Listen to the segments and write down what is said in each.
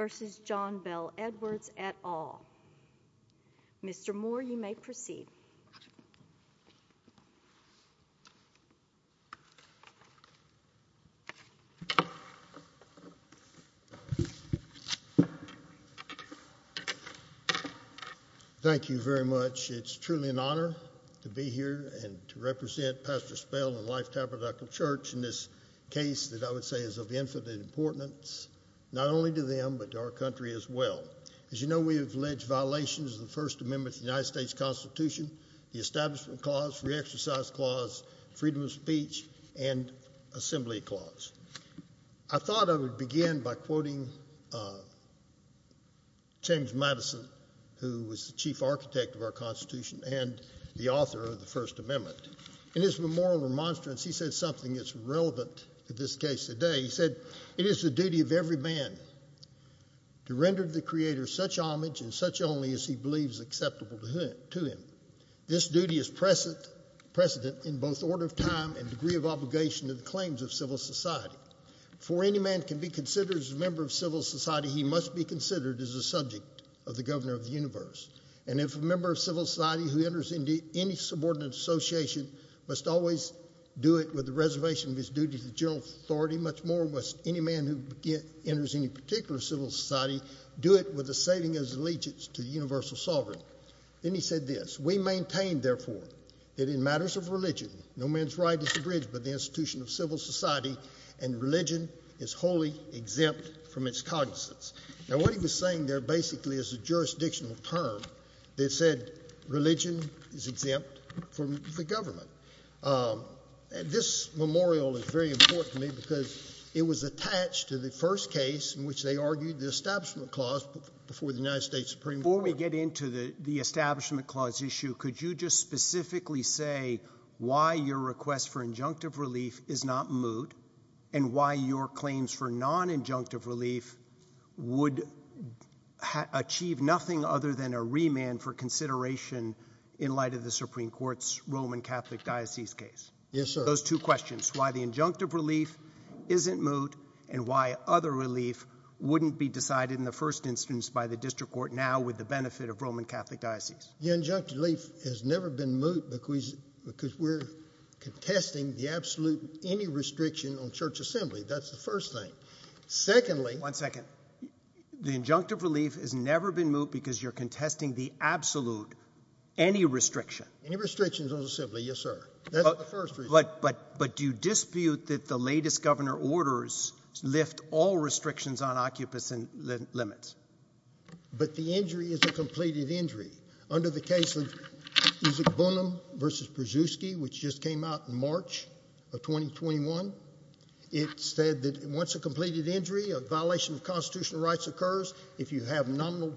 v. John Bell Edwards et al. Mr. Moore, you may proceed. Thank you very much. It's truly an honor to be here and to represent Pastor Spell and Life Tabernacle Church in this case that I would say is of infinite importance, not only to them but to our country as well. As you know, we have alleged violations of the First Amendment of the United States Constitution, the Establishment Clause, Re-Exercise Clause, Freedom of Speech, and Assembly Clause. I thought I would begin by quoting James Madison, who was the chief architect of our Constitution and the author of the First Amendment. In his memorial remonstrance, he said something that's relevant to this case today. He said, It is the duty of every man to render the Creator such homage and such only as he believes acceptable to him. This duty is precedent in both order of time and degree of obligation to the claims of civil society. For any man can be considered as a member of civil society, he must be considered as a subject of the governor of the universe. And if a member of civil society who enters into any subordinate association must always do it with the reservation of his duty to the general authority, much more must any man who enters any particular civil society do it with the saving of his allegiance to the universal sovereign. Then he said this, We maintain, therefore, that in matters of religion, no man's right is abridged by the institution of civil society, and religion is wholly exempt from its cognizance. Now, what he was saying there basically is a jurisdictional term that said religion is is very important to me because it was attached to the first case in which they argued the Establishment Clause before the United States Supreme Court. Before we get into the Establishment Clause issue, could you just specifically say why your request for injunctive relief is not moot and why your claims for non-injunctive relief would achieve nothing other than a remand for consideration in light of the Supreme Court's Roman Catholic Diocese case? Yes, sir. Those two questions, why the injunctive relief isn't moot and why other relief wouldn't be decided in the first instance by the District Court now with the benefit of Roman Catholic Diocese. The injunctive relief has never been moot because we're contesting the absolute any restriction on church assembly. That's the first thing. Secondly, one second, the injunctive relief has never been moot because you're contesting the absolute any restriction. Any restrictions yes, sir. That's the first reason. But do you dispute that the latest governor orders lift all restrictions on occupants and limits? But the injury is a completed injury. Under the case of Isaac Bunim versus Przewski, which just came out in March of 2021, it said that once a completed injury, a violation of constitutional rights occurs if you have nominal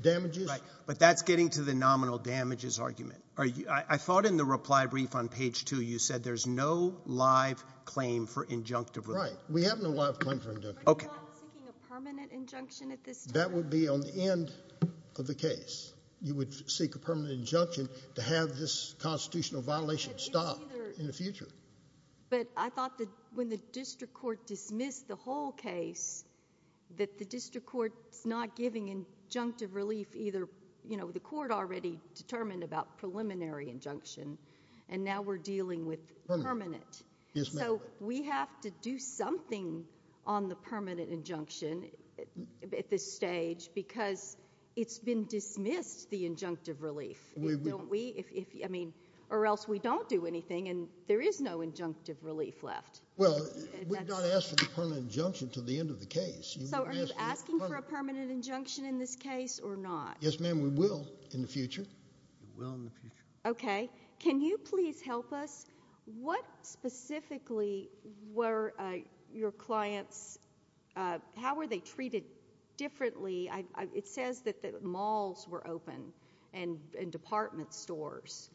damages. But that's getting to the nominal damages argument. I thought in the reply brief on page two, you said there's no live claim for injunctive, right? We have no live claim for a permanent injunction at this. That would be on the end of the case. You would seek a permanent injunction to have this constitutional violation stop in the future. But I thought that when the district court dismissed the whole case, that the district court is not giving injunctive relief either. You know, the court already determined about preliminary injunction, and now we're dealing with permanent. So we have to do something on the permanent injunction at this stage because it's been dismissed the injunctive relief. Don't we? I mean, or else we don't do anything and there is no injunctive relief left. Well, we don't ask for the permanent injunction to the end of the case. So are you asking for a permanent injunction in this case or not? Yes, ma'am. We will in the future. We will in the future. Okay. Can you please help us? What specifically were your clients, how were they treated differently? It says that the malls were open and department stores.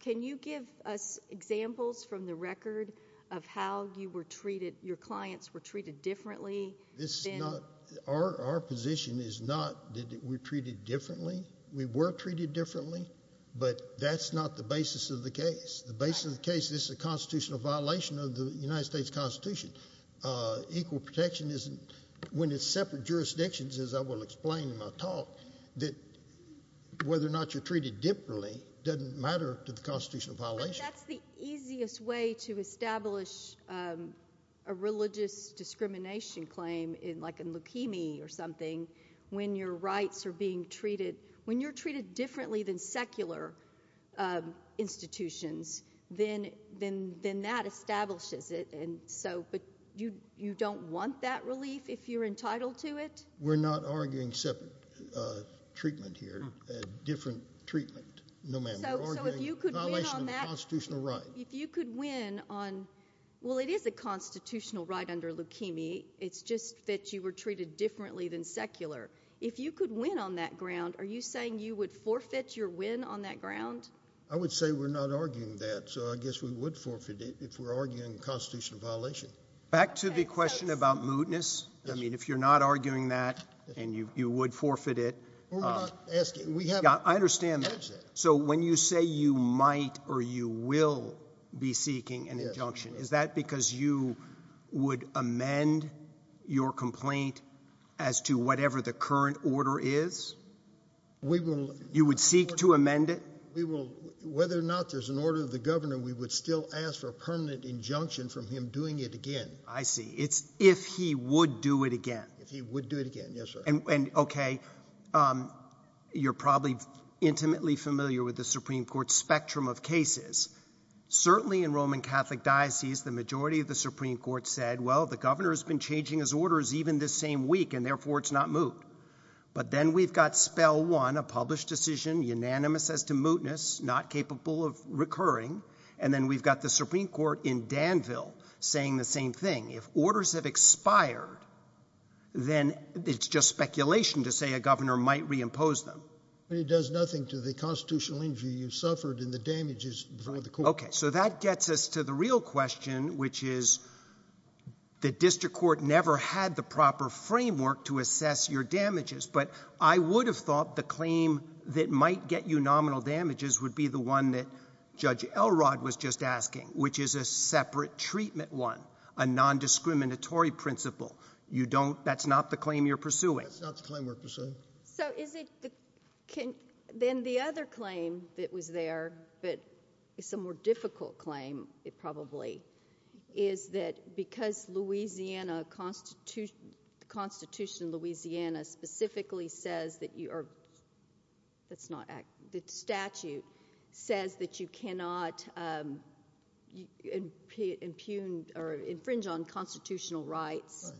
Can you give us examples from the record of how your clients were treated differently? This is not, our position is not that we're treated differently. We were treated differently, but that's not the basis of the case. The basis of the case, this is a constitutional violation of the United States constitution. Equal protection isn't, when it's separate jurisdictions, as I will explain in my talk, that whether or not you're treated differently doesn't matter to the constitutional violation. That's the easiest way to establish a religious discrimination claim in like a leukemia or something when your rights are being treated. When you're treated differently than secular institutions, then that establishes it. But you don't want that relief if you're entitled to it? We're not arguing separate treatment here, different treatment, no ma'am. So if you could win on that, if you could win on well, it is a constitutional right under leukemia. It's just that you were treated differently than secular. If you could win on that ground, are you saying you would forfeit your win on that ground? I would say we're not arguing that. So I guess we would forfeit it if we're arguing a constitutional violation. Back to the question about mootness. I mean, if you're not arguing that and you would forfeit it. I understand that. So when you say you might or you will be seeking an injunction, is that because you would amend your complaint as to whatever the current order is? You would seek to amend it? Whether or not there's an order of the governor, we would still ask for a permanent injunction from him doing it again. I see. It's if he would do it again. If he would do it again. Yes, sir. And OK, you're probably intimately familiar with the Supreme Court spectrum of cases. Certainly in Roman Catholic diocese, the majority of the Supreme Court said, well, the governor has been changing his orders even this same week, and therefore it's not moot. But then we've got spell one, a published decision unanimous as to mootness, not capable of recurring. And then we've got the Supreme Court in Danville saying the same thing. If orders have to say a governor might reimpose them, it does nothing to the constitutional injury you suffered in the damages before the court. OK, so that gets us to the real question, which is the district court never had the proper framework to assess your damages. But I would have thought the claim that might get you nominal damages would be the one that Judge Elrod was just asking, which is a separate treatment, one a nondiscriminatory principle. You don't. That's not the claim you're pursuing. It's not the claim we're pursuing. So is it. Can then the other claim that was there, but it's a more difficult claim. It probably is that because Louisiana Constitution, the Constitution of Louisiana specifically says that you are. That's not the statute says that you cannot impugned or infringe on constitutional rights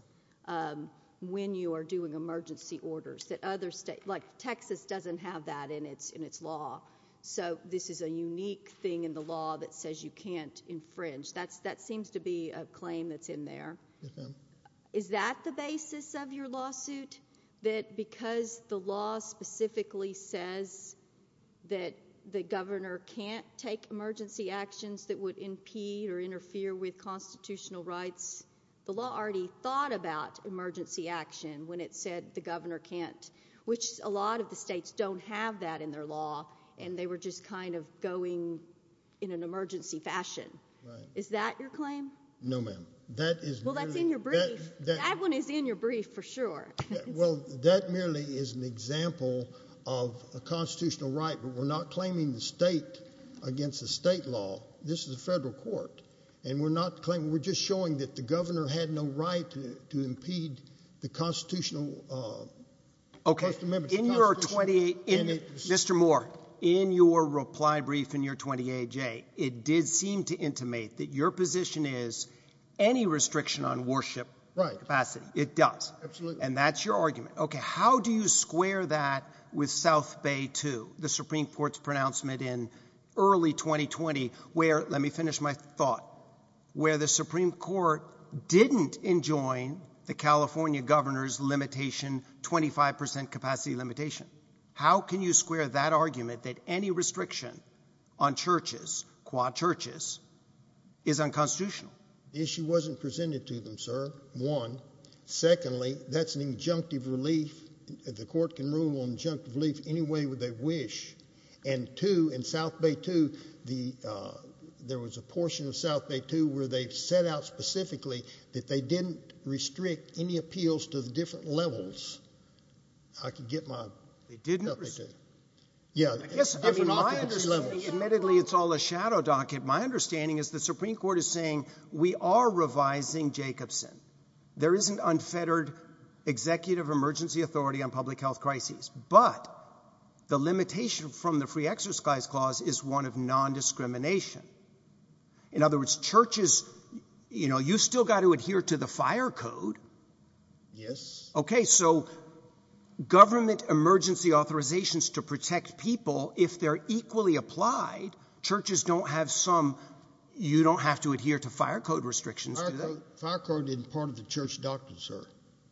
when you are doing emergency orders that other states like Texas doesn't have that in its in its law. So this is a unique thing in the law that says you can't infringe. That's that seems to be a claim that's in there. Is that the basis of your lawsuit that because the law specifically says that the governor can't take emergency actions that would impede or interfere with constitutional rights? The law already thought about emergency action when it said the governor can't, which a lot of the states don't have that in their law, and they were just kind of going in an emergency fashion. Is that your claim? No, ma'am, that is. Well, that's in your brief. That one is in your brief for sure. Well, that merely is an example of a constitutional right, but we're not claiming the state against the state law. This is a federal court and we're not claiming. We're just showing that the governor had no right to impede the constitutional. OK, in your 28, Mr. Moore, in your reply brief in your 28 J, it did seem to intimate that your position is any restriction on worship capacity. It does. Absolutely. And that's your argument. OK, how do you square that with South Bay to the Supreme Court's pronouncement in early 2020 where, let me finish my thought, where the Supreme Court didn't enjoin the California governor's limitation, 25 percent capacity limitation? How can you square that argument that any restriction on churches, quad churches, is unconstitutional? The issue wasn't presented to them, sir. One. Secondly, that's an injunctive relief. The court can rule on injunctive relief any way they wish. And two, in South Bay to the there was a portion of South Bay to where they set out specifically that they didn't restrict any appeals to the different levels. I could get my didn't. Yeah, I guess. Admittedly, it's all a shadow docket. My understanding is the Supreme Court is saying we are revising Jacobson. There is an unfettered executive emergency authority on public health crises. But the limitation from the free exercise clause is one of nondiscrimination. In other words, churches, you know, you still got to adhere to the fire code. Yes. OK, so government emergency authorizations to protect people if they're equally applied. Churches don't have some. You don't have to adhere to fire code restrictions. Fire code isn't part of the church doctrine, sir.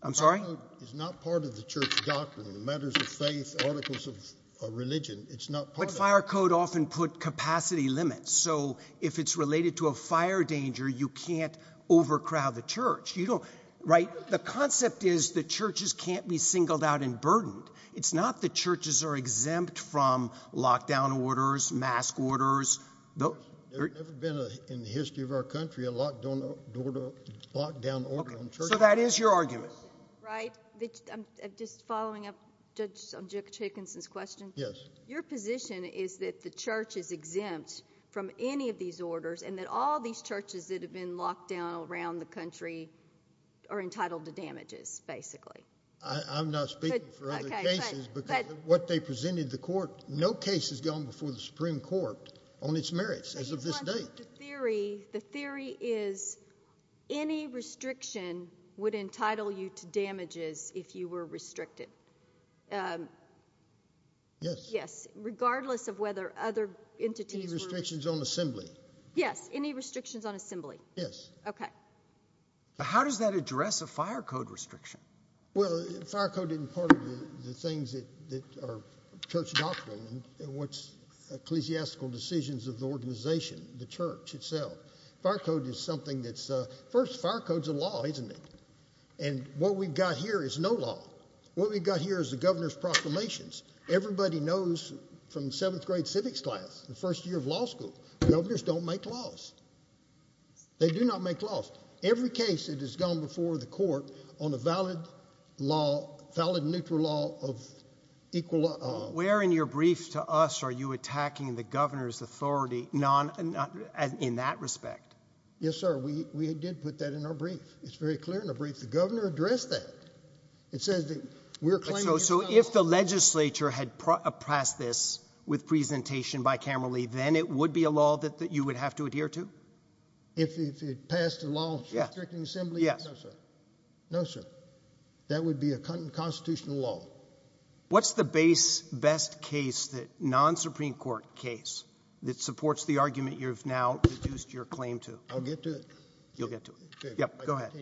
I'm sorry. It's not part of the church doctrine. Matters of faith, articles of religion. It's not. But fire code often put capacity limits. So if it's related to a fire danger, you can't overcrowd the church. You don't write. The concept is the churches can't be singled out and burdened. It's not the churches are exempt from lockdown orders, mask orders. No, they've never been in the history of our country. A lot don't order lockdown order. So that is your argument, right? I'm just following up. Judge Jacobson's question. Yes. Your position is that the church is exempt from any of these orders and that all these churches that have been locked down around the country are entitled to damages. Basically, I'm not speaking for other cases, but what they presented the court, no case has gone before the Supreme Court on its merits as of this date. The theory is any restriction would entitle you to damages if you were restricted. Yes. Yes. Regardless of whether other entities restrictions on assembly. Yes. Any restrictions on assembly. Yes. Okay. How does that address a fire code restriction? Well, fire code in part of the things that are church doctrine and what's ecclesiastical decisions of the organization, the church itself. Fire code is something that's a first fire codes of law, isn't it? And what we've got here is no law. What we've got here is the governor's proclamations. Everybody knows from seventh grade civics class, the first year of law school, governors don't make laws. They do not make laws. Every case that has gone before the court on a valid law, valid neutral law of equal. Where in your brief to us, are you attacking the governor's authority? Non in that respect? Yes, sir. We did put that in our brief. It's very clear in a brief. The governor addressed that. It says that we're claiming. So if the legislature had oppressed this with presentation by camera, Lee, then it would be a law that you would have to adhere to. If it passed a law, yes. Yes, sir. No, sir. That would be a constitutional law. What's the base best case that non Supreme Court case that supports the argument you've now produced your claim to? I'll get to it. You'll get to it. Go ahead.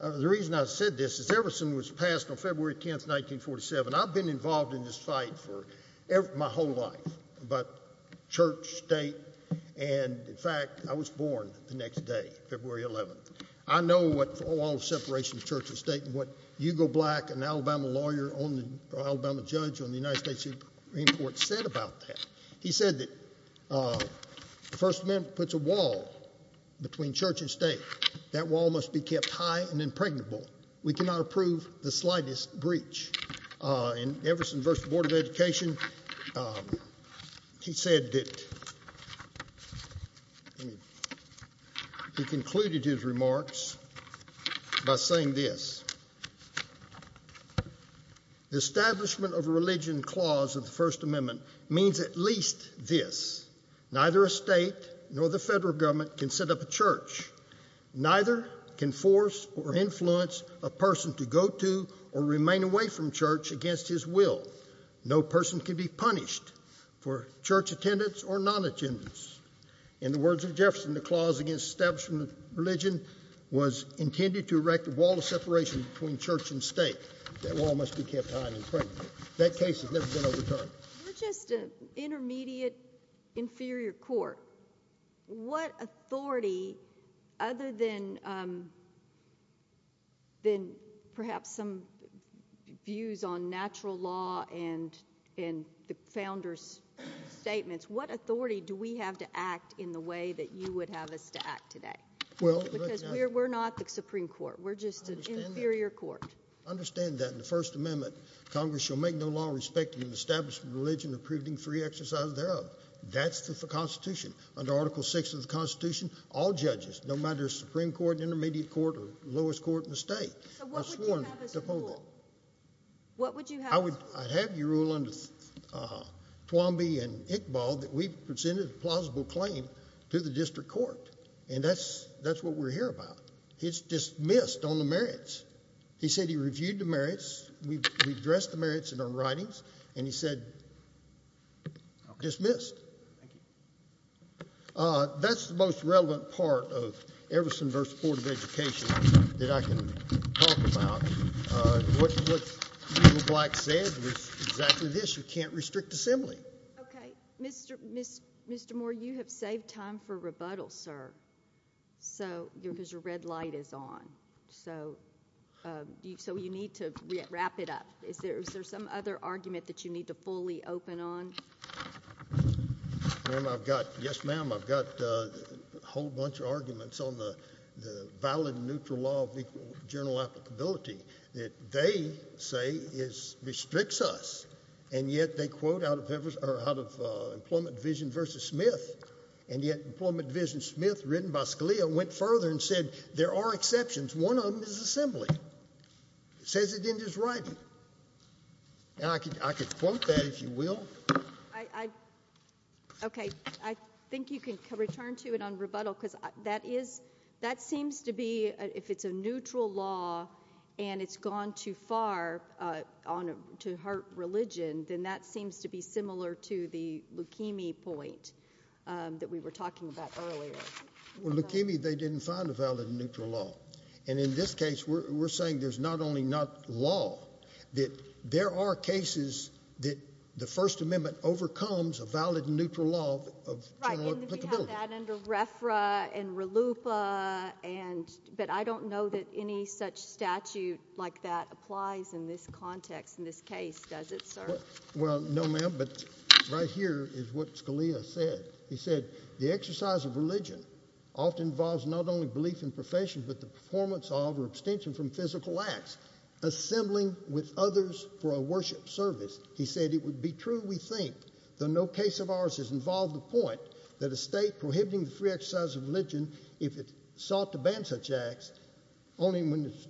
The reason I said this is Everson was passed on February 10th, 1947. I've been involved in this fight for my whole life, but church state. And in fact, I was born the next day, February 11th. I know what all separation of church and state and what you go black and Alabama lawyer on the Alabama judge on the United States Supreme Court said about that. He said that, uh, First Amendment puts a wall between church and state. That wall must be kept high and impregnable. We cannot approve the slightest breach in Everson versus Board of Education. He said that he concluded his remarks by saying this. The establishment of a religion clause of the First Amendment means at least this. Neither a state nor the federal government can set up a church. Neither can force or influence a person to go to or remain away from church against his will. No person could be punished for church attendance or non attendance. In the words of Jefferson, the clause against steps from religion was intended to erect a wall of separation between church and state. That wall must be kept high and pregnant. That case has never been overturned. We're just an intermediate inferior court. What authority other than, um, then perhaps some views on natural law and in the founders statements, what authority do we have to act in the way that you would have us to act today? Well, because we're not the Supreme Court. We're just an inferior court. Understand that in the First Amendment, Congress shall make no law respecting and establishing religion, approving free exercise thereof. That's the Constitution. Under Article Six of the Constitution, all judges, no matter Supreme Court, intermediate court, or lowest court in the state. So what would you have us rule? I'd have you rule under Twombly and Iqbal that we presented a plausible claim to the district court. And that's what we're here about. It's dismissed on the merits. He said he reviewed the merits. We've addressed the merits in our writings. And he said dismissed. Thank you. That's the most relevant part of Everson versus Board of Education that I can talk about. What Black said was exactly this. You can't restrict assembly. Okay. Mr. Moore, you have saved time for rebuttal, sir. So because your red light is on. So you need to wrap it up. Is there some other argument that you need to fully open on? Ma'am, I've got, yes ma'am, I've got a whole bunch of arguments on the valid and neutral law of equal journal applicability that they say restricts us. And yet they quote out of Everson, or out of Employment Division versus Smith. And yet Employment Division Smith, written by Scalia, went further and said there are exceptions. One of them is assembly. It says it in his writing. And I could, I could quote that if you will. Okay. I think you can return to it on rebuttal because that is, that seems to be, if it's a neutral law and it's gone too far on, to hurt religion, then that seems to be similar to the Well, look, Amy, they didn't find a valid and neutral law. And in this case, we're saying there's not only not law, that there are cases that the First Amendment overcomes a valid and neutral law of journal applicability. Right, and we have that under RFRA and RLUIPA and, but I don't know that any such statute like that applies in this context, in this case, does it, often involves not only belief in profession, but the performance of or abstention from physical acts assembling with others for a worship service. He said it would be true, we think, though no case of ours has involved the point that a state prohibiting the free exercise of religion, if it sought to ban such acts, only when it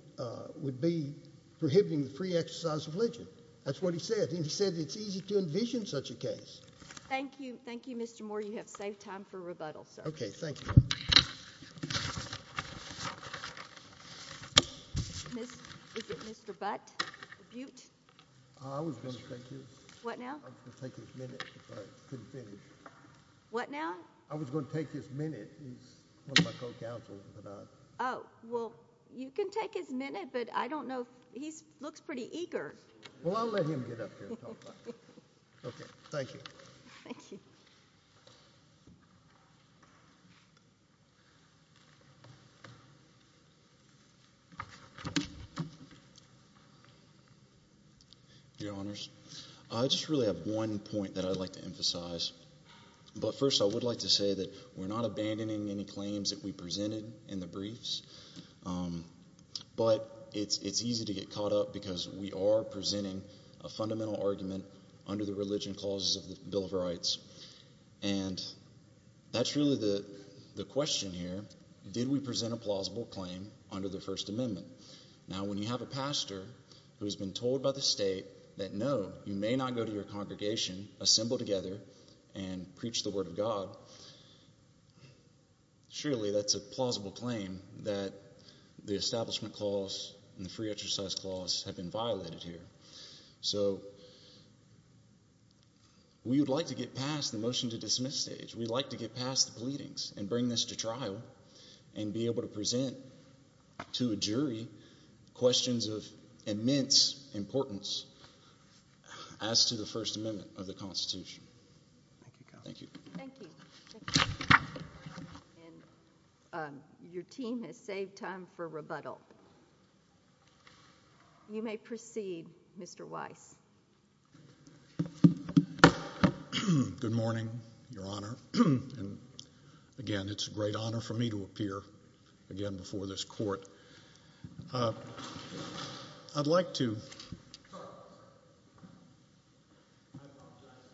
would be prohibiting the free exercise of religion. That's what he said. And he said it's easy to envision such a case. Thank you. Thank you, Mr. Moore. You have saved time for rebuttal, sir. Okay, thank you. Miss, is it Mr. Butt, Butte? I was going to take his. What now? I was going to take his minute, but I couldn't finish. What now? I was going to take his minute. He's one of my co-counsel, but I. Oh, well, you can take his minute, but I don't know. He looks pretty eager. Well, I'll let him get up here and talk about it. Okay, thank you. Your Honors, I just really have one point that I'd like to emphasize. But first, I would like to say that we're not abandoning any claims that we under the religion clauses of the Bill of Rights. And that's really the question here. Did we present a plausible claim under the First Amendment? Now, when you have a pastor who has been told by the state that, no, you may not go to your congregation, assemble together, and preach the word of God, surely that's a plausible claim that the Establishment Clause and the Free Exercise Clause have been violated here. So we would like to get past the motion to dismiss stage. We'd like to get past the pleadings and bring this to trial and be able to present to a jury questions of immense importance as to the First Amendment of the Constitution. Thank you. Thank you. Thank you. And your team has saved time for rebuttal. You may proceed, Mr. Weiss. Good morning, Your Honor. And again, it's a great honor for me to appear again before this court. I'd like to start.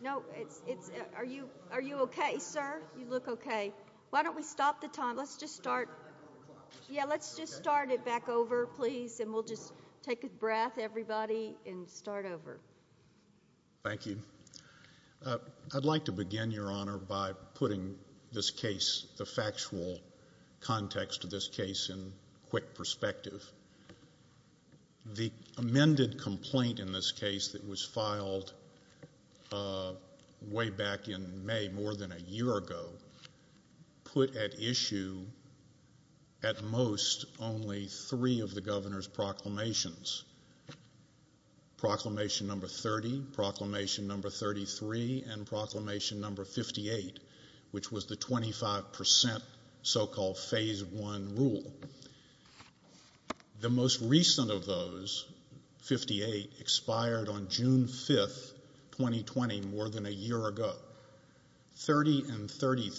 No, it's, it's, are you, are you okay, sir? You look okay. Why don't we stop the time? Let's just start. Yeah, let's just start it back over, please. And we'll just take a breath, everybody, and start over. Thank you. I'd like to begin, Your Honor, by putting this case, the factual context of this case, in quick perspective. The amended complaint in this case that was filed way back in May, more than a year ago, put at issue, at most, only three of the Governor's proclamations, Proclamation No. 30, Proclamation No. 33, and Proclamation No. 58, which was the 25% so-called Phase 1 rule. The most recent of those, 58, expired on June 5th, 2020, more than a year ago. The Proclamation No. 33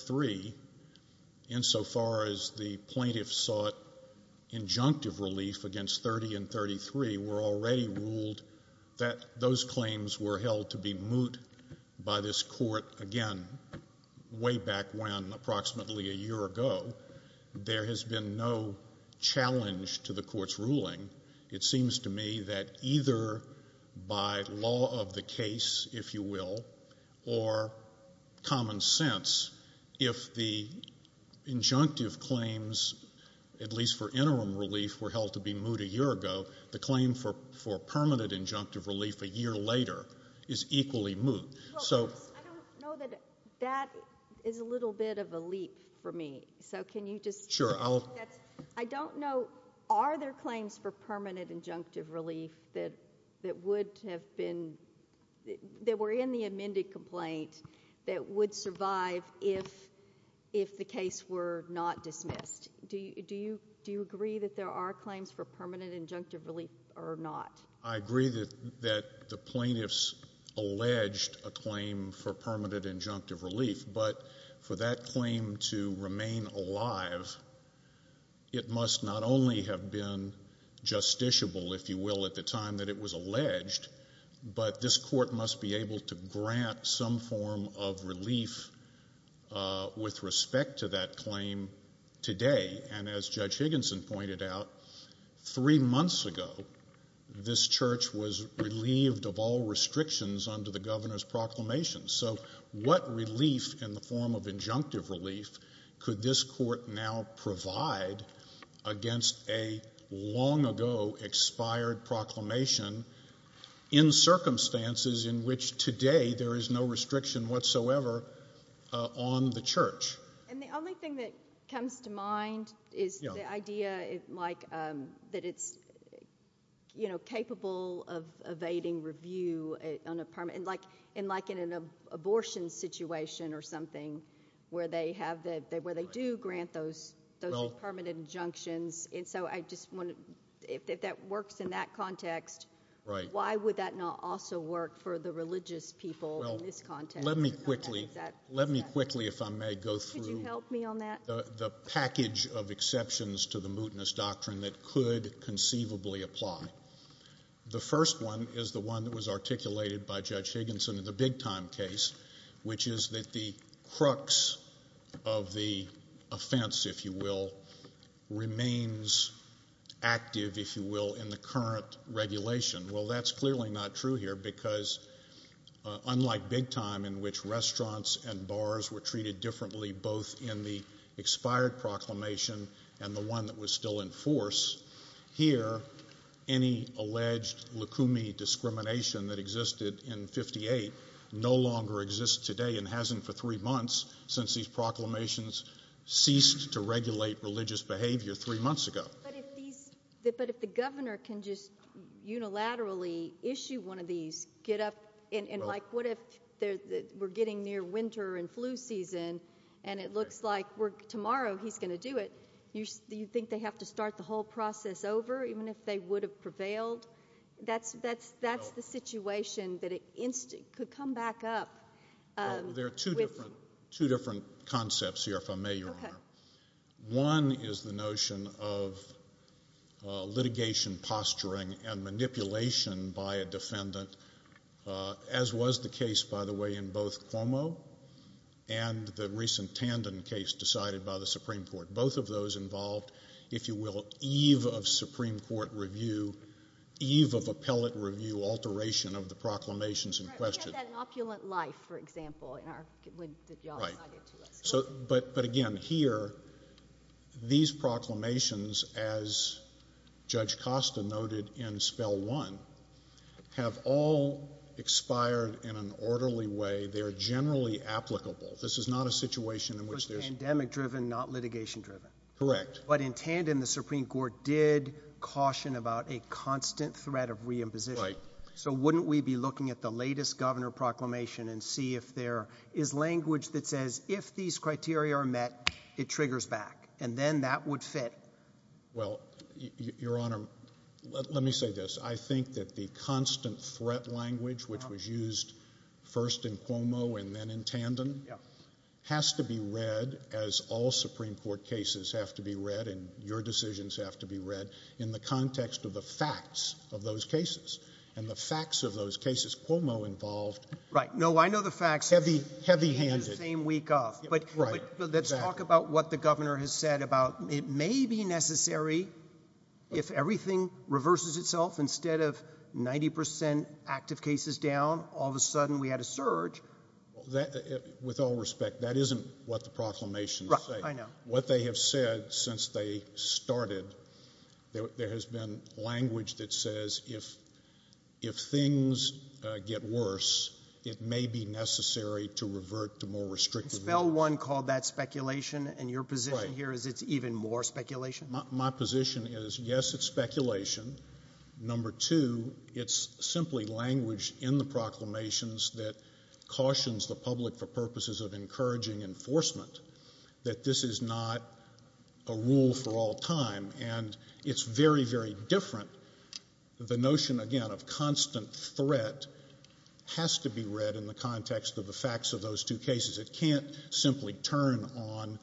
were already ruled that those claims were held to be moot by this court, again, way back when, approximately a year ago. There has been no challenge to the court's ruling. It seems to me that either by law of the case, if you will, or common sense, if the claim for permanent injunctive relief a year later is equally moot. I don't know that that is a little bit of a leap for me, so can you just... Sure. I don't know, are there claims for permanent injunctive relief that would have been, that were in the amended complaint, that would survive if the case were not dismissed? Do you agree that there are or not? I agree that the plaintiffs alleged a claim for permanent injunctive relief, but for that claim to remain alive, it must not only have been justiciable, if you will, at the time that it was alleged, but this court must be able to grant some form of relief with respect to that claim. A few months ago, this church was relieved of all restrictions under the governor's proclamation, so what relief in the form of injunctive relief could this court now provide against a long ago expired proclamation in circumstances in which today there is no restriction whatsoever on the church? And the only thing that comes to mind is the idea that it's capable of evading review on a permanent... And like in an abortion situation or something, where they do grant those permanent injunctions, and so I just want to... If that works in that context, why would that not also work for the religious people in this context? Let me quickly, if I may, go through the package of regulations that conceivably apply. The first one is the one that was articulated by Judge Higginson in the big-time case, which is that the crux of the offense, if you will, remains active, if you will, in the current regulation. Well, that's clearly not true here, because unlike big-time, in which restaurants and bars were treated differently both in the expired proclamation and the one that was still in force, here any alleged lukumi discrimination that existed in 58 no longer exists today and hasn't for three months since these proclamations ceased to regulate religious behavior three months ago. But if the governor can just unilaterally issue one of these, get up, and like what if we're getting near winter and flu season, and it looks like tomorrow he's going to do it, do you think they have to start the whole process over even if they would have prevailed? That's the situation that could come back up. There are two different concepts here, if I may, Your Honor. One is the notion of litigation posturing and manipulation by a defendant, as was the case, by the way, in both Cuomo and the recent Tandon case decided by the Supreme Court. Both of those involved, if you will, eve of Supreme Court review, eve of appellate review, alteration of the proclamations in question. We have that opulent life, for example, in our, when y'all provided to us. Right. But again, here, these proclamations, as Judge Costa noted in Spell 1, have all expired in an orderly way. They're generally applicable. This is not a situation in which there's. Pandemic driven, not litigation driven. Correct. But in Tandon, the Supreme Court did caution about a constant threat of reimposition. Right. So wouldn't we be looking at the latest governor proclamation and see if there is language that says if these criteria are met, it triggers back, and then that would fit. Well, Your Honor, let me say this. I think that the constant threat language, which was used first in Cuomo and then in Tandon, has to be read as all Supreme Court cases have to be read and your decisions have to be read in the context of the facts of those cases and the facts of those cases Cuomo involved. Right. No, I know the facts. Heavy, heavy handed. Same week off. But let's talk about what the governor has said about it may be necessary if everything reverses itself instead of with all respect, that isn't what the proclamations say. I know what they have said since they started. There has been language that says if if things get worse, it may be necessary to revert to more restrictive. Spell one called that speculation. And your position here is it's even more speculation. My position is, yes, it's speculation. Number two, it's simply language in the proclamations that cautions the public for purposes of encouraging enforcement, that this is not a rule for all time. And it's very, very different. The notion, again, of constant threat has to be read in the context of the facts of those two cases. It can't simply turn on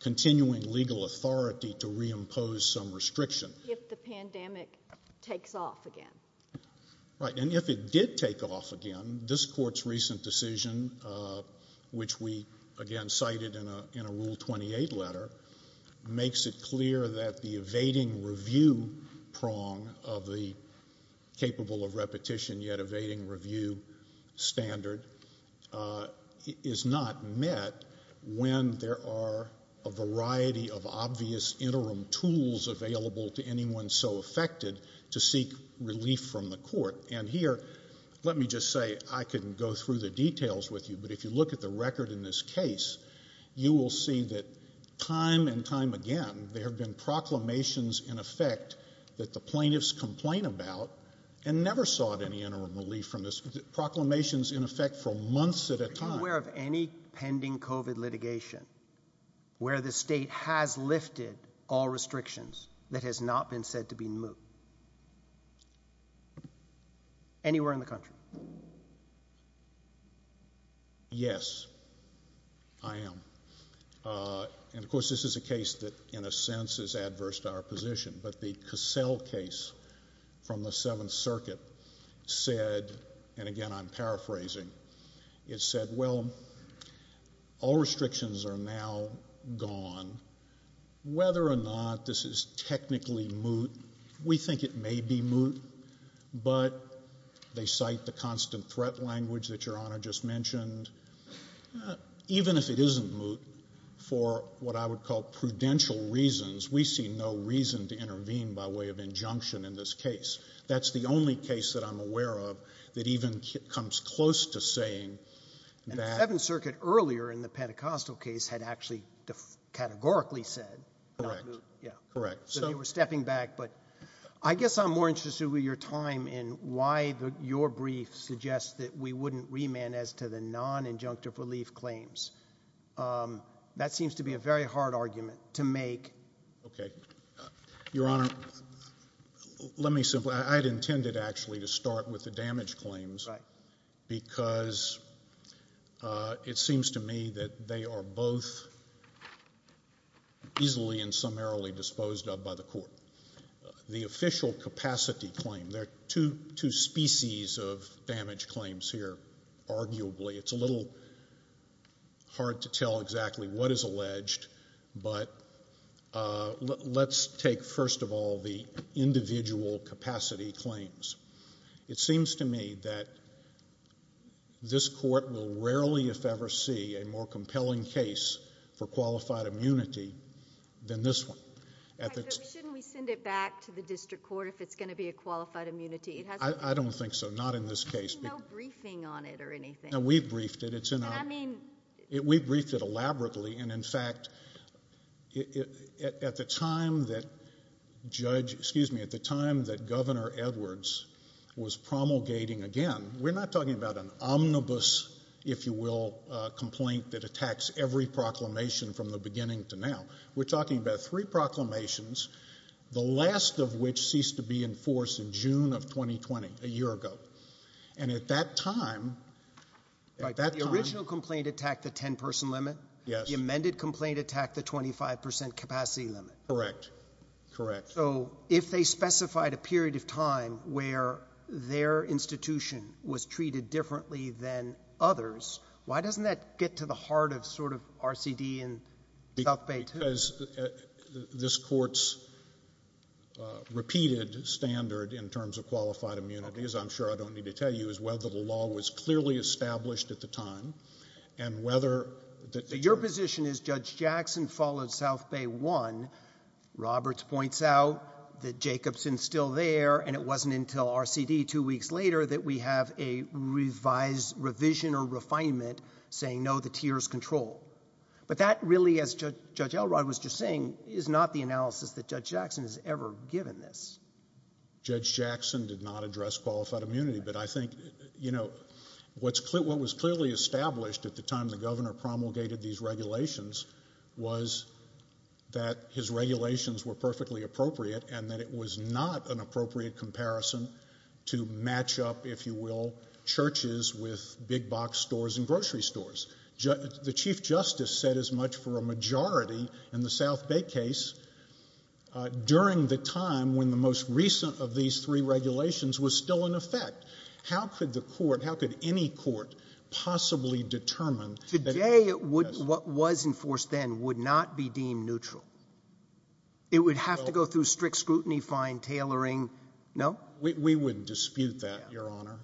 continuing legal authority to reimpose some restriction if the pandemic takes off again. Right. And if it did take off again, this court's recent decision, which we, again, cited in a rule 28 letter, makes it clear that the evading review prong of the capable of repetition yet evading review standard is not met when there are a variety of obvious interim tools available to anyone so affected to seek relief from the court. And here, let me just say I can go through the details with you. But if you look at the record in this case, you will see that time and time again, there have been proclamations in effect that the plaintiffs complain about and never sought any interim relief from this proclamations in effect for months at a time pending covid litigation where the state has lifted all restrictions that has not been said to be moved anywhere in the country. Yes, I am. And of course, this is a case that, in a sense, is adverse to our position. But the all restrictions are now gone, whether or not this is technically moot. We think it may be moot, but they cite the constant threat language that your honor just mentioned. Even if it isn't moot for what I would call prudential reasons, we see no reason to intervene by way of injunction in this case. That's the only case that I'm aware of that even comes close to the 7th Circuit earlier in the Pentecostal case had actually categorically said correct. Yeah, correct. So they were stepping back. But I guess I'm more interested with your time in why your brief suggests that we wouldn't remand as to the non injunctive relief claims. That seems to be a very hard argument to make. Okay, your honor. Let me simply I'd intended actually to start with the damage claims because it seems to me that they are both easily and summarily disposed of by the court. The official capacity claim, there are two species of damage claims here, arguably. It's a little hard to tell exactly what is alleged, but let's take first of all the individual capacity claims. It seems to me that this court will rarely if ever see a more compelling case for qualified immunity than this one. Shouldn't we send it back to the district court if it's going to be a qualified immunity? I don't think so. Not in this case. There's no briefing on it or anything. No, we briefed it. I mean, we briefed it elaborately. And in fact, at the time that Governor Edwards was promulgating again, we're not talking about an omnibus, if you will, complaint that attacks every proclamation from the beginning to now. We're talking about three proclamations, the last of which ceased to be in force in June of 2020, a year ago. And at that time, the original complaint attacked the 10-person limit. Yes. The amended complaint attacked the 25% capacity limit. Correct. Correct. So if they specified a period of time where their institution was treated differently than others, why doesn't that get to the heart of sort of RCD and South Bay? Because this court's repeated standard in terms of qualified immunity, as I'm sure I don't need to tell you, is whether the law was clearly established at the time and whether... Your position is Judge Jackson followed South Bay one. Roberts points out that Jacobson's still there, and it wasn't until RCD two weeks later that we have a revised revision or refinement saying, no, the tier's control. But that really, as Judge Elrod was just saying, is not the analysis that Judge Jackson has ever given this. Judge Jackson did not address qualified immunity, but I think, you know, what was clearly established at the time the governor promulgated these regulations was that his regulations were perfectly appropriate and that it was not an appropriate comparison to match up, if you will, churches with big box stores and grocery stores. The Chief Justice said as much for a majority in the South Bay case during the time when the most recent of these three regulations was still in effect. How could the court, how could any court possibly determine... Today, what was enforced then would not be deemed neutral. It would have to go through strict scrutiny, fine tailoring, no? We wouldn't dispute that, Your Honor.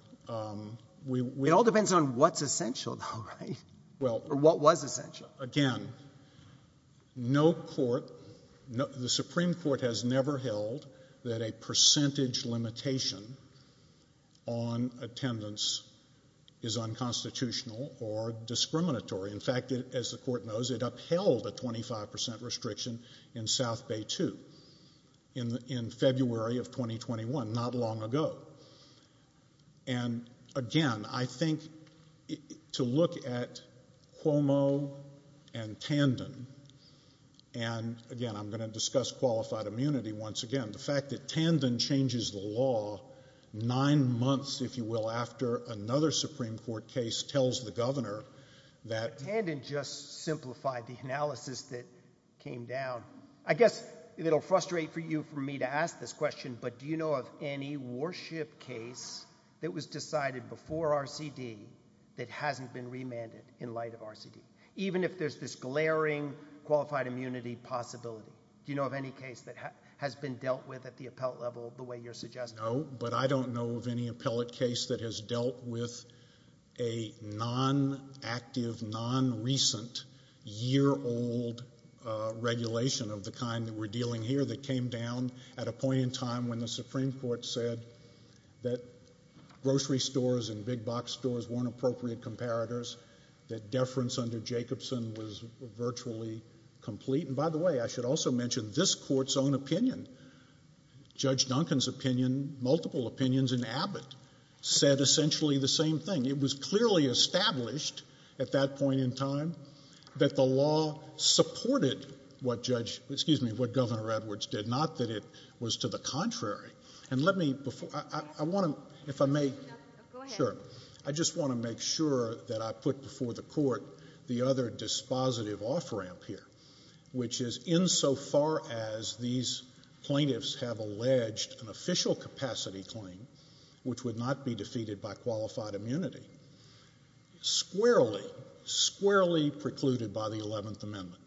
It all depends on what's essential though, right? Or what was essential. Again, no court, the Supreme Court has never held that a percentage limitation on attendance is unconstitutional or discriminatory. In fact, as the court knows, it upheld a 25% restriction in South Bay 2 in February of 2021, not long ago. And again, I think to look at Cuomo and Tandon, and again, I'm going to discuss qualified immunity once again, the fact that Tandon changes the law nine months, if you will, after another Supreme Court case tells the governor that... Tandon just simplified the analysis that came down. I guess it'll frustrate for you for me to ask this question, but do you know of any worship case that was decided before RCD that hasn't been remanded in light of RCD? Even if there's this glaring qualified immunity possibility, do you know of any case that has been dealt with at the appellate level the way you're suggesting? No, but I don't know of any appellate case that has dealt with a non-active, non-recent, year-old regulation of the kind that we're dealing here that came down at a point in time when the Supreme Court said that grocery stores and big box stores weren't appropriate comparators, that deference under Jacobson was virtually complete. And by the way, I should also mention this court's own opinion. Judge Duncan's opinion, multiple opinions in Abbott said essentially the same thing. It was clearly established at that point in time that the law supported what Governor Edwards did, not that it was to the contrary. I just want to make sure that I put before the court the other dispositive off-ramp here, which is insofar as these plaintiffs have alleged an official capacity claim, which would not be defeated by qualified immunity, squarely, squarely precluded by the 11th Amendment.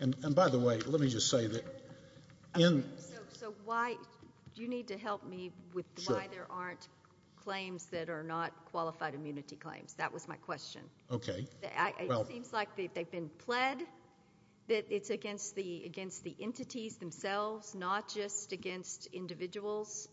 And by the way, let me just say that... So why do you need to help me with why there aren't claims that are not qualified immunity claims? That was my question. It seems like they've been pled that it's against the entities themselves, not just against individuals.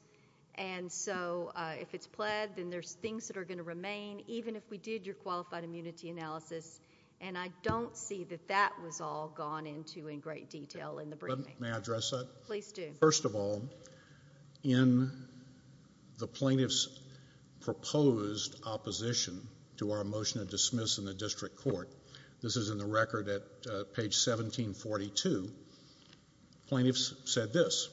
And so if it's pled, then there's things that are going to remain, even if we did your qualified immunity analysis. And I don't see that that was all gone into in great detail in the briefing. May I address that? Please do. First of all, in the plaintiff's proposed opposition to our motion of dismiss in the district court, this is in the record at page 1742, plaintiffs said this,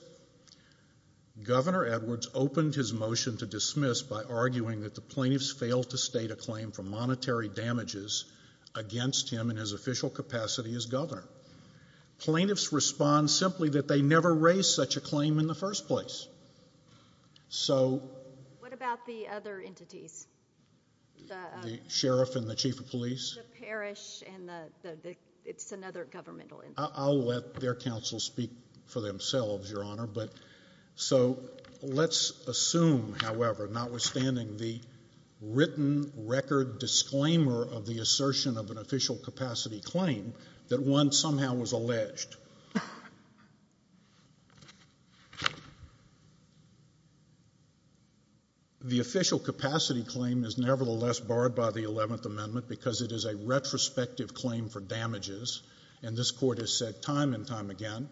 Governor Edwards opened his motion to dismiss by arguing that the plaintiffs failed to state a claim for monetary damages against him in his official capacity as governor. Plaintiffs respond simply that they never raised such a claim in the first place. What about the other entities? The sheriff and the chief of police? The parish and the... It's another governmental entity. I'll let their counsel speak for themselves, Your Honor. But so let's assume, however, notwithstanding the written record disclaimer of the assertion of official capacity claim, that one somehow was alleged. The official capacity claim is nevertheless barred by the 11th Amendment because it is a retrospective claim for damages. And this court has said time and time again,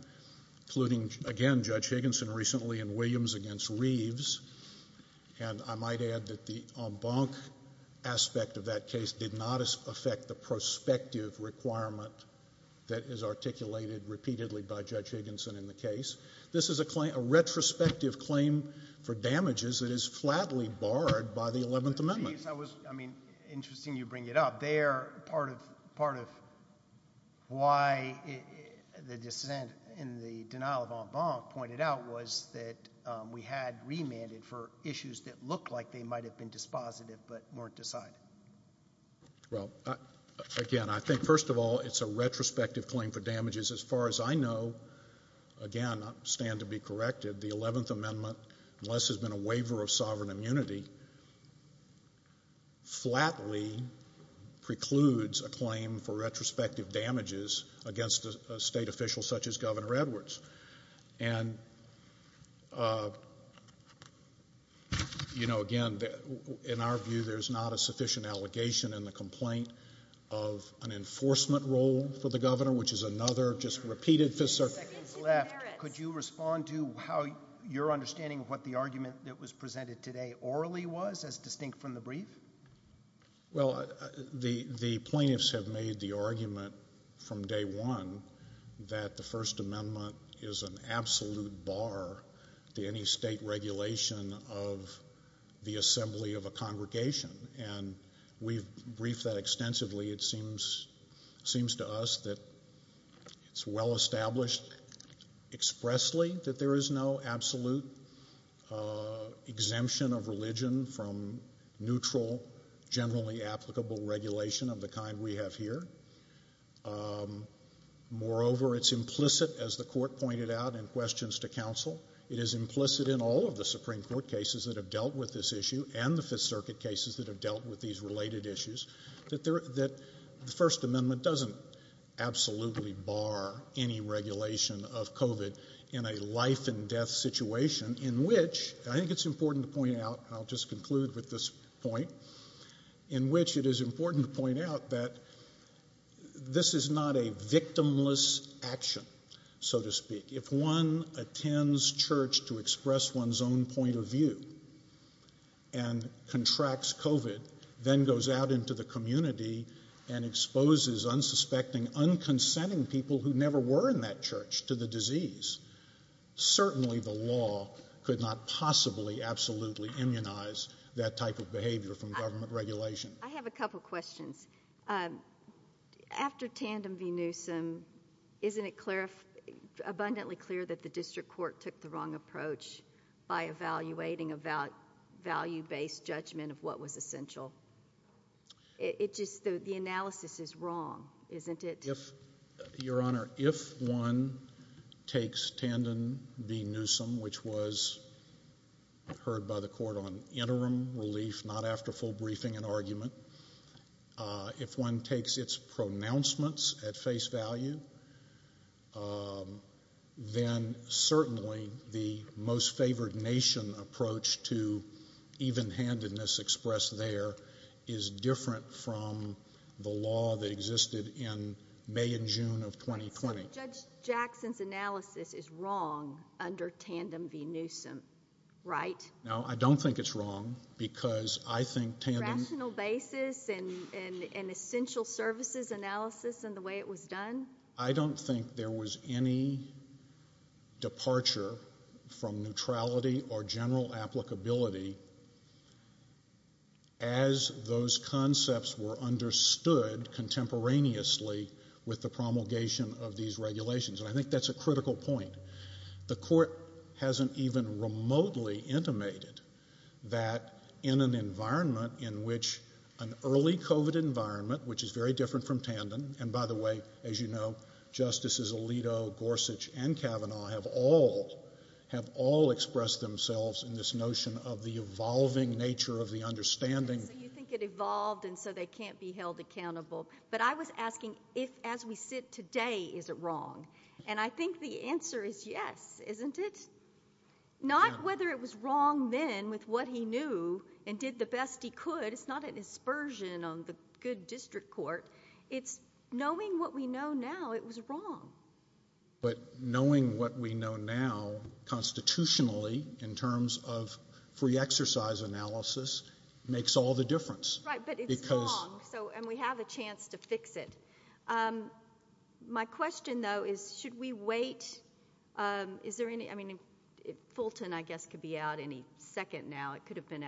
including again, Judge Higginson recently in Williams against Reeves. And I might add that the en banc aspect of that case did not affect the prospective requirement that is articulated repeatedly by Judge Higginson in the case. This is a claim, a retrospective claim for damages that is flatly barred by the 11th Amendment. I mean, interesting you bring it up there. Part of why the dissent in the denial of en banc pointed out was that we had remanded for issues that looked like they were. Well, again, I think first of all, it's a retrospective claim for damages. As far as I know, again, I stand to be corrected, the 11th Amendment, unless there's been a waiver of sovereign immunity, flatly precludes a claim for retrospective damages against a state official such as Governor Edwards. And, you know, again, in our view, there's not a sufficient allegation in the complaint of an enforcement role for the governor, which is another just repeated fifth circuit. Could you respond to how your understanding of what the argument that was presented today orally was as distinct from the brief? Well, the the plaintiffs have made the argument from day one that the First Amendment is an absolute bar to any state regulation of the assembly of a congregation. And we've briefed that extensively. It seems to us that it's well established expressly that there is no absolute exemption of religion from neutral, generally applicable regulation of the kind we have here. Moreover, it's implicit, as the court pointed out in questions to counsel, it is implicit in all of the Supreme Court cases that have dealt with this issue and the Fifth Circuit cases that have dealt with these related issues that that the First Amendment doesn't absolutely bar any regulation of covid in a life and death situation in which I think it's important to point out. I'll just conclude with this point in which it is important to point out that this is not a victimless action, so to speak. If one attends church to express one's own point of view and contracts covid, then goes out into the community and exposes unsuspecting, unconsenting people who never were in that church to the disease. Certainly the law could not possibly absolutely immunize that type of behavior from government regulation. I have a couple questions. After Tandem v. Newsom, isn't it abundantly clear that the district court took the wrong approach by evaluating a value-based judgment of what was essential? It just, the analysis is wrong, isn't it? Your Honor, if one takes Tandem v. Newsom, which was heard by the court on interim relief, not after full briefing and argument, if one takes its pronouncements at face value, then certainly the most favored nation approach to is different from the law that existed in May and June of 2020. Judge Jackson's analysis is wrong under Tandem v. Newsom, right? No, I don't think it's wrong because I think Tandem... Rational basis and essential services analysis and the way it was done? I don't think there was any departure from neutrality or general applicability as those concepts were understood contemporaneously with the promulgation of these regulations. And I think that's a critical point. The court hasn't even remotely intimated that in an environment in which an early COVID environment, which is very different from Tandem, and by the way, as you know, Justices Alito, Gorsuch, and Kavanaugh have all expressed themselves in this notion of the evolving nature of the understanding. So you think it evolved and so they can't be held accountable. But I was asking if, as we sit today, is it wrong? And I think the answer is yes, isn't it? Not whether it was wrong then with what he knew and did the best he could. It's not an aversion on the good district court. It's knowing what we know now it was wrong. But knowing what we know now constitutionally in terms of free exercise analysis makes all the difference. Right, but it's wrong, and we have a chance to fix it. My question, though, is should we wait? Is there any, I mean, Fulton, I guess, could be out any second now. It could be.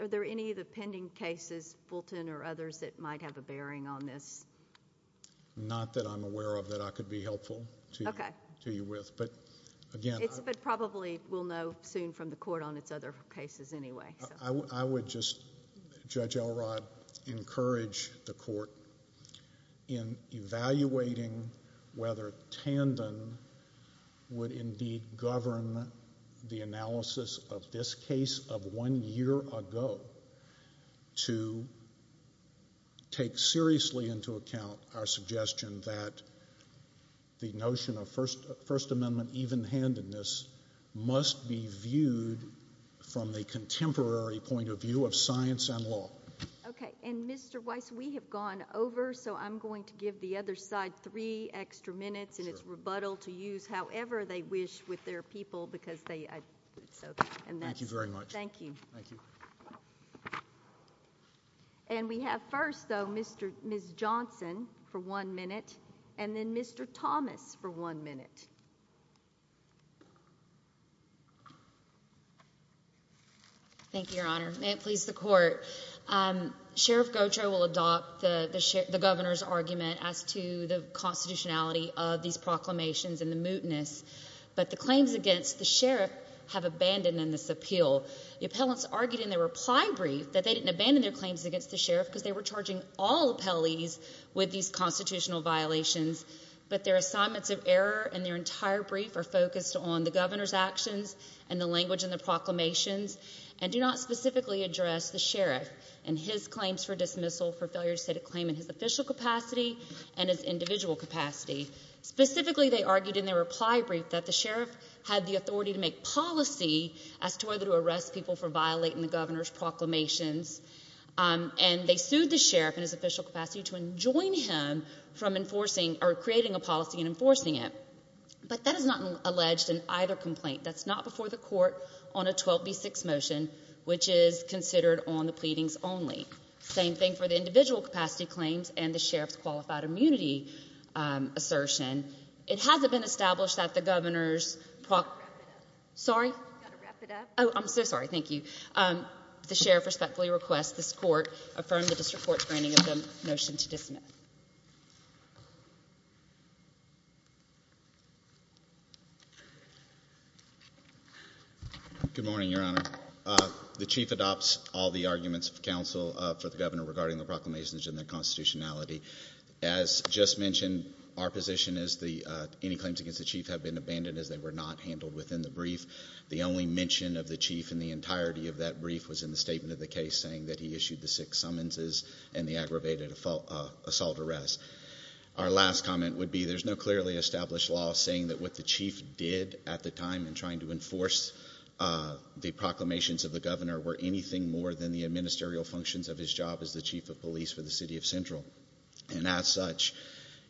Are there any of the pending cases, Fulton or others, that might have a bearing on this? Not that I'm aware of that I could be helpful to you with, but again. It's probably, we'll know soon from the court on its other cases anyway. I would just, Judge Elrod, encourage the court in evaluating whether Tandem would indeed govern the analysis of this case of one year ago to take seriously into account our suggestion that the notion of First Amendment even-handedness must be viewed from the contemporary point of view of science and law. Okay, and Mr. Weiss, we have gone over, so I'm going to give the other side three extra minutes in its rebuttal to use however they wish with their people because they, so, and that's it. Thank you very much. Thank you. And we have first, though, Ms. Johnson for one minute, and then Mr. Thomas for one minute. Thank you, Your Honor. May it please the court. Sheriff Gautreaux will adopt the governor's actions. I, I have no objection to the constitutionality of these proclamations and the mootness, but the claims against the sheriff have abandoned in this appeal. The appellants argued in their reply brief that they didn't abandon their claims against the sheriff because they were charging all appellees with these constitutional violations, but their assignments of error in their entire brief are focused on the governor's actions and the language in the proclamations, and do not specifically address the sheriff and his individual capacity. Specifically, they argued in their reply brief that the sheriff had the authority to make policy as to whether to arrest people for violating the governor's proclamations, and they sued the sheriff in his official capacity to enjoin him from enforcing, or creating a policy and enforcing it, but that is not alleged in either complaint. That's not before the court on a 12B6 motion, which is considered on the pleadings only. Same thing for the individual capacity claims and the sheriff's qualified immunity assertion. It hasn't been established that the governor's proclamation, sorry, oh, I'm so sorry, thank you, um, the sheriff respectfully requests this court affirm the district court's granting of the motion to dismiss. Good morning, Your Honor. The chief adopts all the arguments of for the governor regarding the proclamations and their constitutionality. As just mentioned, our position is any claims against the chief have been abandoned as they were not handled within the brief. The only mention of the chief in the entirety of that brief was in the statement of the case saying that he issued the six summonses and the aggravated assault arrest. Our last comment would be there's no clearly established law saying that what the chief did at the time in trying to enforce the proclamations of the governor were anything more than the administrial functions of his job as the chief of police for the city of Central. And as such,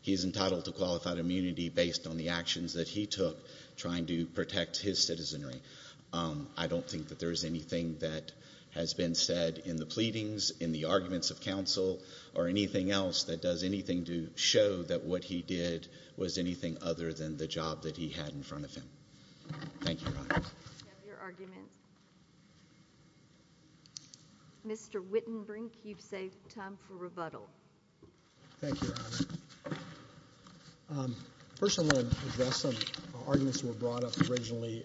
he is entitled to qualified immunity based on the actions that he took trying to protect his citizenry. I don't think that there is anything that has been said in the pleadings, in the arguments of counsel, or anything else that does anything to show that what he did was anything other than the job that he had in front of him. Thank you. Mr. Wittenbrink, you've saved time for rebuttal. Thank you, Your Honor. First, I want to address some arguments that were brought up originally,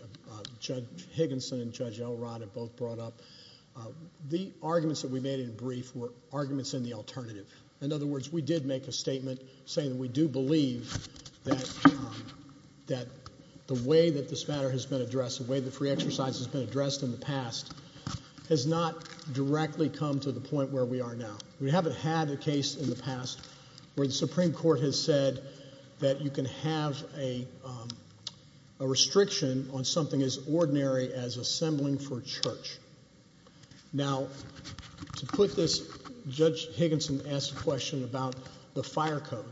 Judge Higginson and Judge Elrod have both brought up. The arguments that we made in the brief were arguments in the alternative. In other words, we did make a statement saying we do believe that the way that this matter has been addressed, the way the free exercise has been addressed in the past, has not directly come to the point where we are now. We haven't had a case in the past where the Supreme Court has said that you can have a restriction on something as ordinary as assembling for church. Now, to put this, Judge Higginson asked a question about the fire code.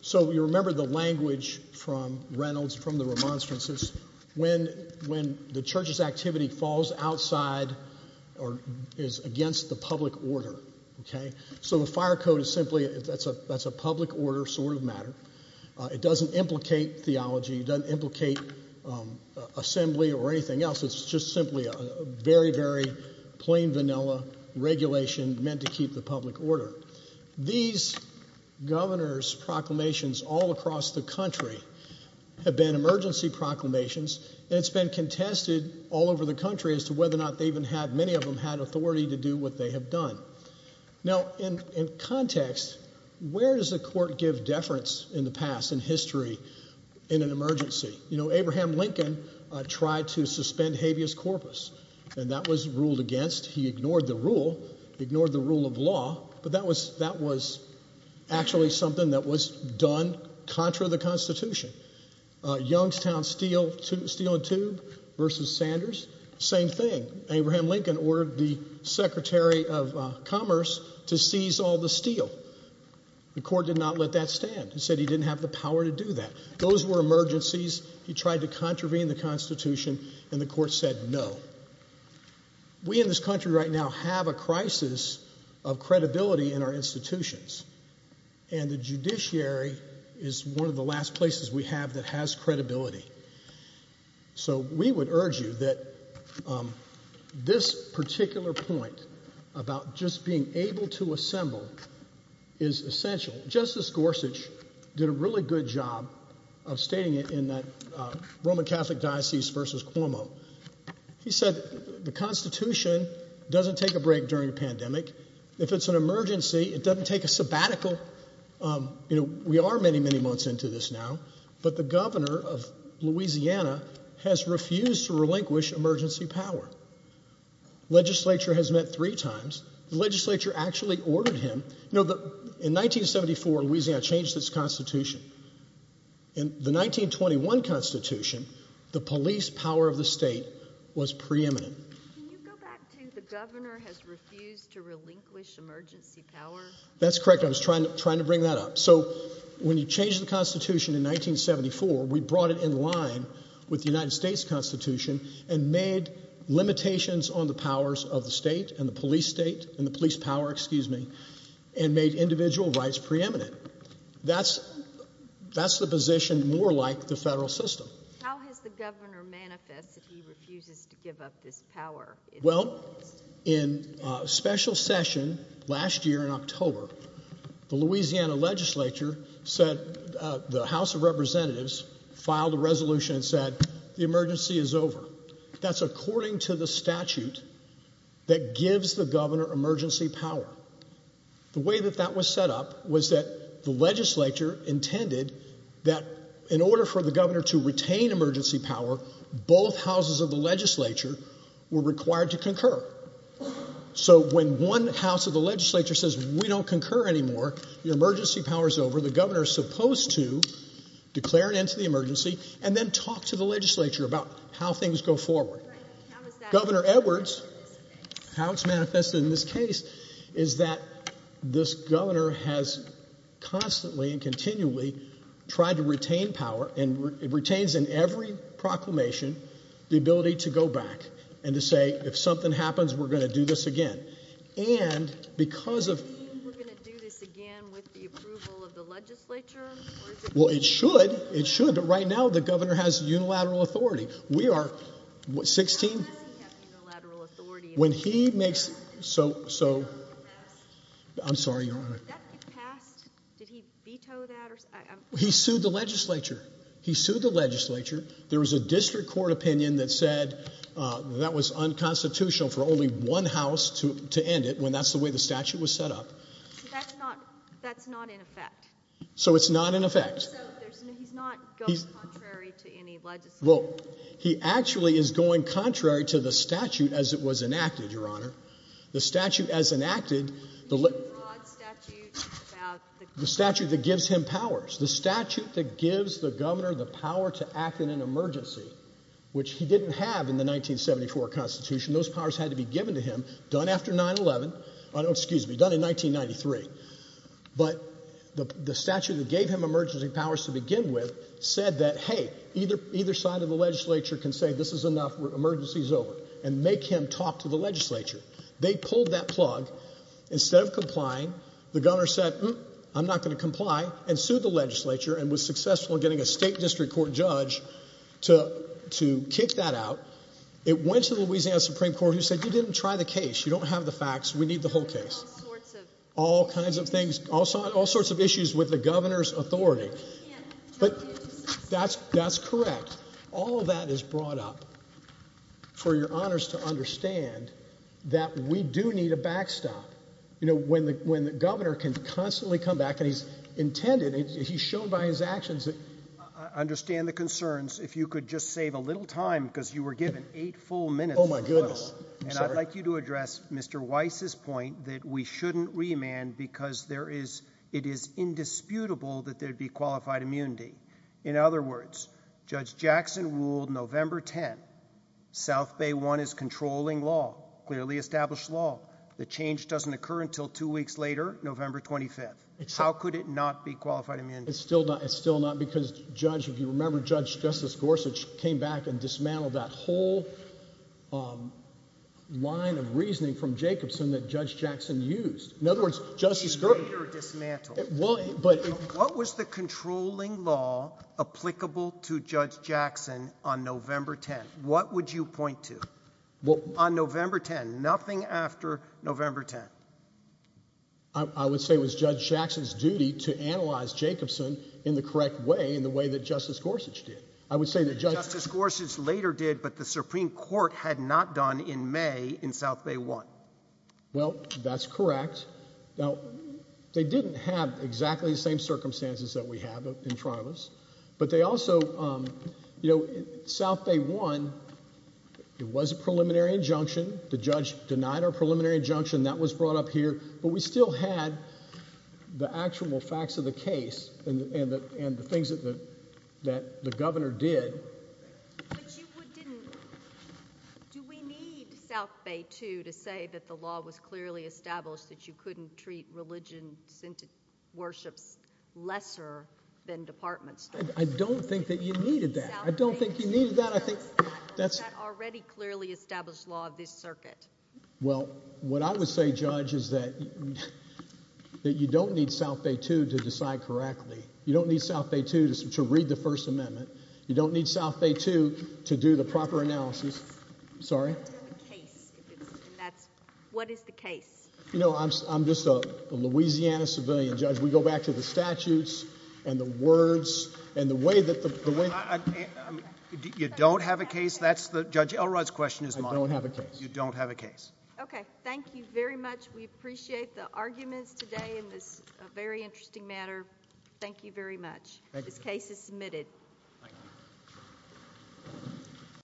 So, you remember the language from Reynolds, from the remonstrances. When the church's activity falls outside or is against the public order, okay, so the fire code is simply, that's a public order sort of matter. It doesn't implicate theology. It doesn't implicate assembly or anything else. It's just simply a very, very plain vanilla regulation meant to keep the public order. These governor's proclamations all across the country have been emergency proclamations, and it's been contested all over the country as to whether or not they even had, many of them, had authority to do what they have done. Now, in context, where does the court give deference in the past, in history, in an emergency? You know, Abraham Lincoln tried to suspend habeas corpus, and that was ruled against. He ignored the rule, ignored the rule of law, but that was actually something that was done contra the Constitution. Youngstown Steel and Tube versus Sanders, same thing. Abraham Lincoln ordered the Secretary of Commerce to seize all the steel. The court did not let that stand. He said he didn't have the power to do that. Those were emergencies. He tried to contravene the Constitution, and the court said no. We in this country right now have a crisis of credibility in our institutions, and the judiciary is one of the last places we have that has credibility. So we would urge you that this particular point about just being able to assemble is essential. Justice Gorsuch did a really good job of stating it in that Roman Catholic versus Cuomo. He said the Constitution doesn't take a break during a pandemic. If it's an emergency, it doesn't take a sabbatical. You know, we are many, many months into this now, but the governor of Louisiana has refused to relinquish emergency power. Legislature has met three times. The legislature actually ordered him. You know, in 1974, Louisiana changed its Constitution. In the 1921 Constitution, the police power of the state was preeminent. Can you go back to the governor has refused to relinquish emergency power? That's correct. I was trying to bring that up. So when you change the Constitution in 1974, we brought it in line with the United States Constitution and made limitations on the powers of the state and the police state and the police power, excuse me, and made individual rights preeminent. That's that's the position more like the federal system. How has the governor manifest that he refuses to give up this power? Well, in a special session last year in October, the Louisiana legislature said the House of Representatives filed a resolution and said the emergency is over. That's according to the statute that gives the governor emergency power. The way that that was set up was that the legislature intended that in order for the governor to retain emergency power, both houses of the legislature were required to concur. So when one house of the legislature says we don't concur anymore, the emergency power is over, the governor is supposed to declare an end to the emergency and then talk to the legislature about how things go forward. Governor Edwards, how it's manifested in this case is that this governor has constantly and continually tried to retain power and retains in every proclamation the ability to go back and to say, if something happens, we're going to do this again. And because we're going to do this again with the approval of the legislature. Well, it should. It should. But right now, the governor has unilateral authority. We are 16. When he makes so so. I'm sorry, your honor. Did he veto that? He sued the legislature. He sued the legislature. There was a district court opinion that said that was unconstitutional for only one house to end it when that's the way the statute was set up. That's not that's not in effect. So it's not in effect. He's not going contrary to any legislature. Well, he actually is going contrary to the statute as it was enacted, your honor. The statute as enacted, the statute that gives him powers, the statute that gives the governor the power to act in an done after 9-11, excuse me, done in 1993. But the statute that gave him emergency powers to begin with said that, hey, either either side of the legislature can say this is enough. Emergency's over and make him talk to the legislature. They pulled that plug instead of complying. The governor said, I'm not going to comply and sued the legislature and was successful in getting a state district court judge to to kick that out. It went to the Louisiana Supreme Court, who said you didn't try the case. You don't have the facts. We need the whole case, all kinds of things, also all sorts of issues with the governor's authority. But that's that's correct. All that is brought up for your honors to understand that we do need a backstop. You know, when the when the governor can constantly come back and he's intended, he's shown by his actions that I understand the concerns. If you could just save a little time because you were given eight full minutes. Oh, my goodness. And I'd like you to address Mr. Weiss's point that we shouldn't remand because there is it is indisputable that there'd be qualified immunity. In other words, Judge Jackson ruled November 10. South Bay one is controlling law, clearly established law. The change doesn't occur until two weeks later, November 25th. How could it not be qualified? I mean, it's still not. It's still not. Because, Judge, if you remember, Judge Justice Gorsuch came back and dismantled that whole line of reasoning from Jacobson that Judge Jackson used. In other words, just dismantled. But what was the controlling law applicable to Judge Jackson on November 10? What would you point to? Well, on November 10, nothing after November 10. I would say it was Judge Jackson's duty to analyze Jacobson in the correct way in the way that Justice Gorsuch did. I would say that Justice Gorsuch later did, but the Supreme Court had not done in May in South Bay one. Well, that's correct. Now, they didn't have exactly the same circumstances that we have in Toronto. But they also, you know, South Bay one, it was a preliminary injunction. The judge denied our preliminary injunction. That was brought up here. But we still had the actual facts of the case and the things that the governor did. Do we need South Bay two to say that the law was clearly established that you couldn't treat religion worships lesser than departments? I don't think that you needed that. I don't think you need that. I think that's already clearly established law of this circuit. Well, what I would say, Judge, is that you don't need South Bay two to decide correctly. You don't need South Bay two to read the First Amendment. You don't need South Bay two to do the proper analysis. Sorry. What is the case? You know, I'm just a Louisiana civilian, Judge. We go back to the statutes and the words and the way that the way you don't have a case. That's the Judge Elrod's question is. I don't have a case. You don't have a case. Okay. Thank you very much. We appreciate the arguments today in this very interesting matter. Thank you very much. This case is submitted.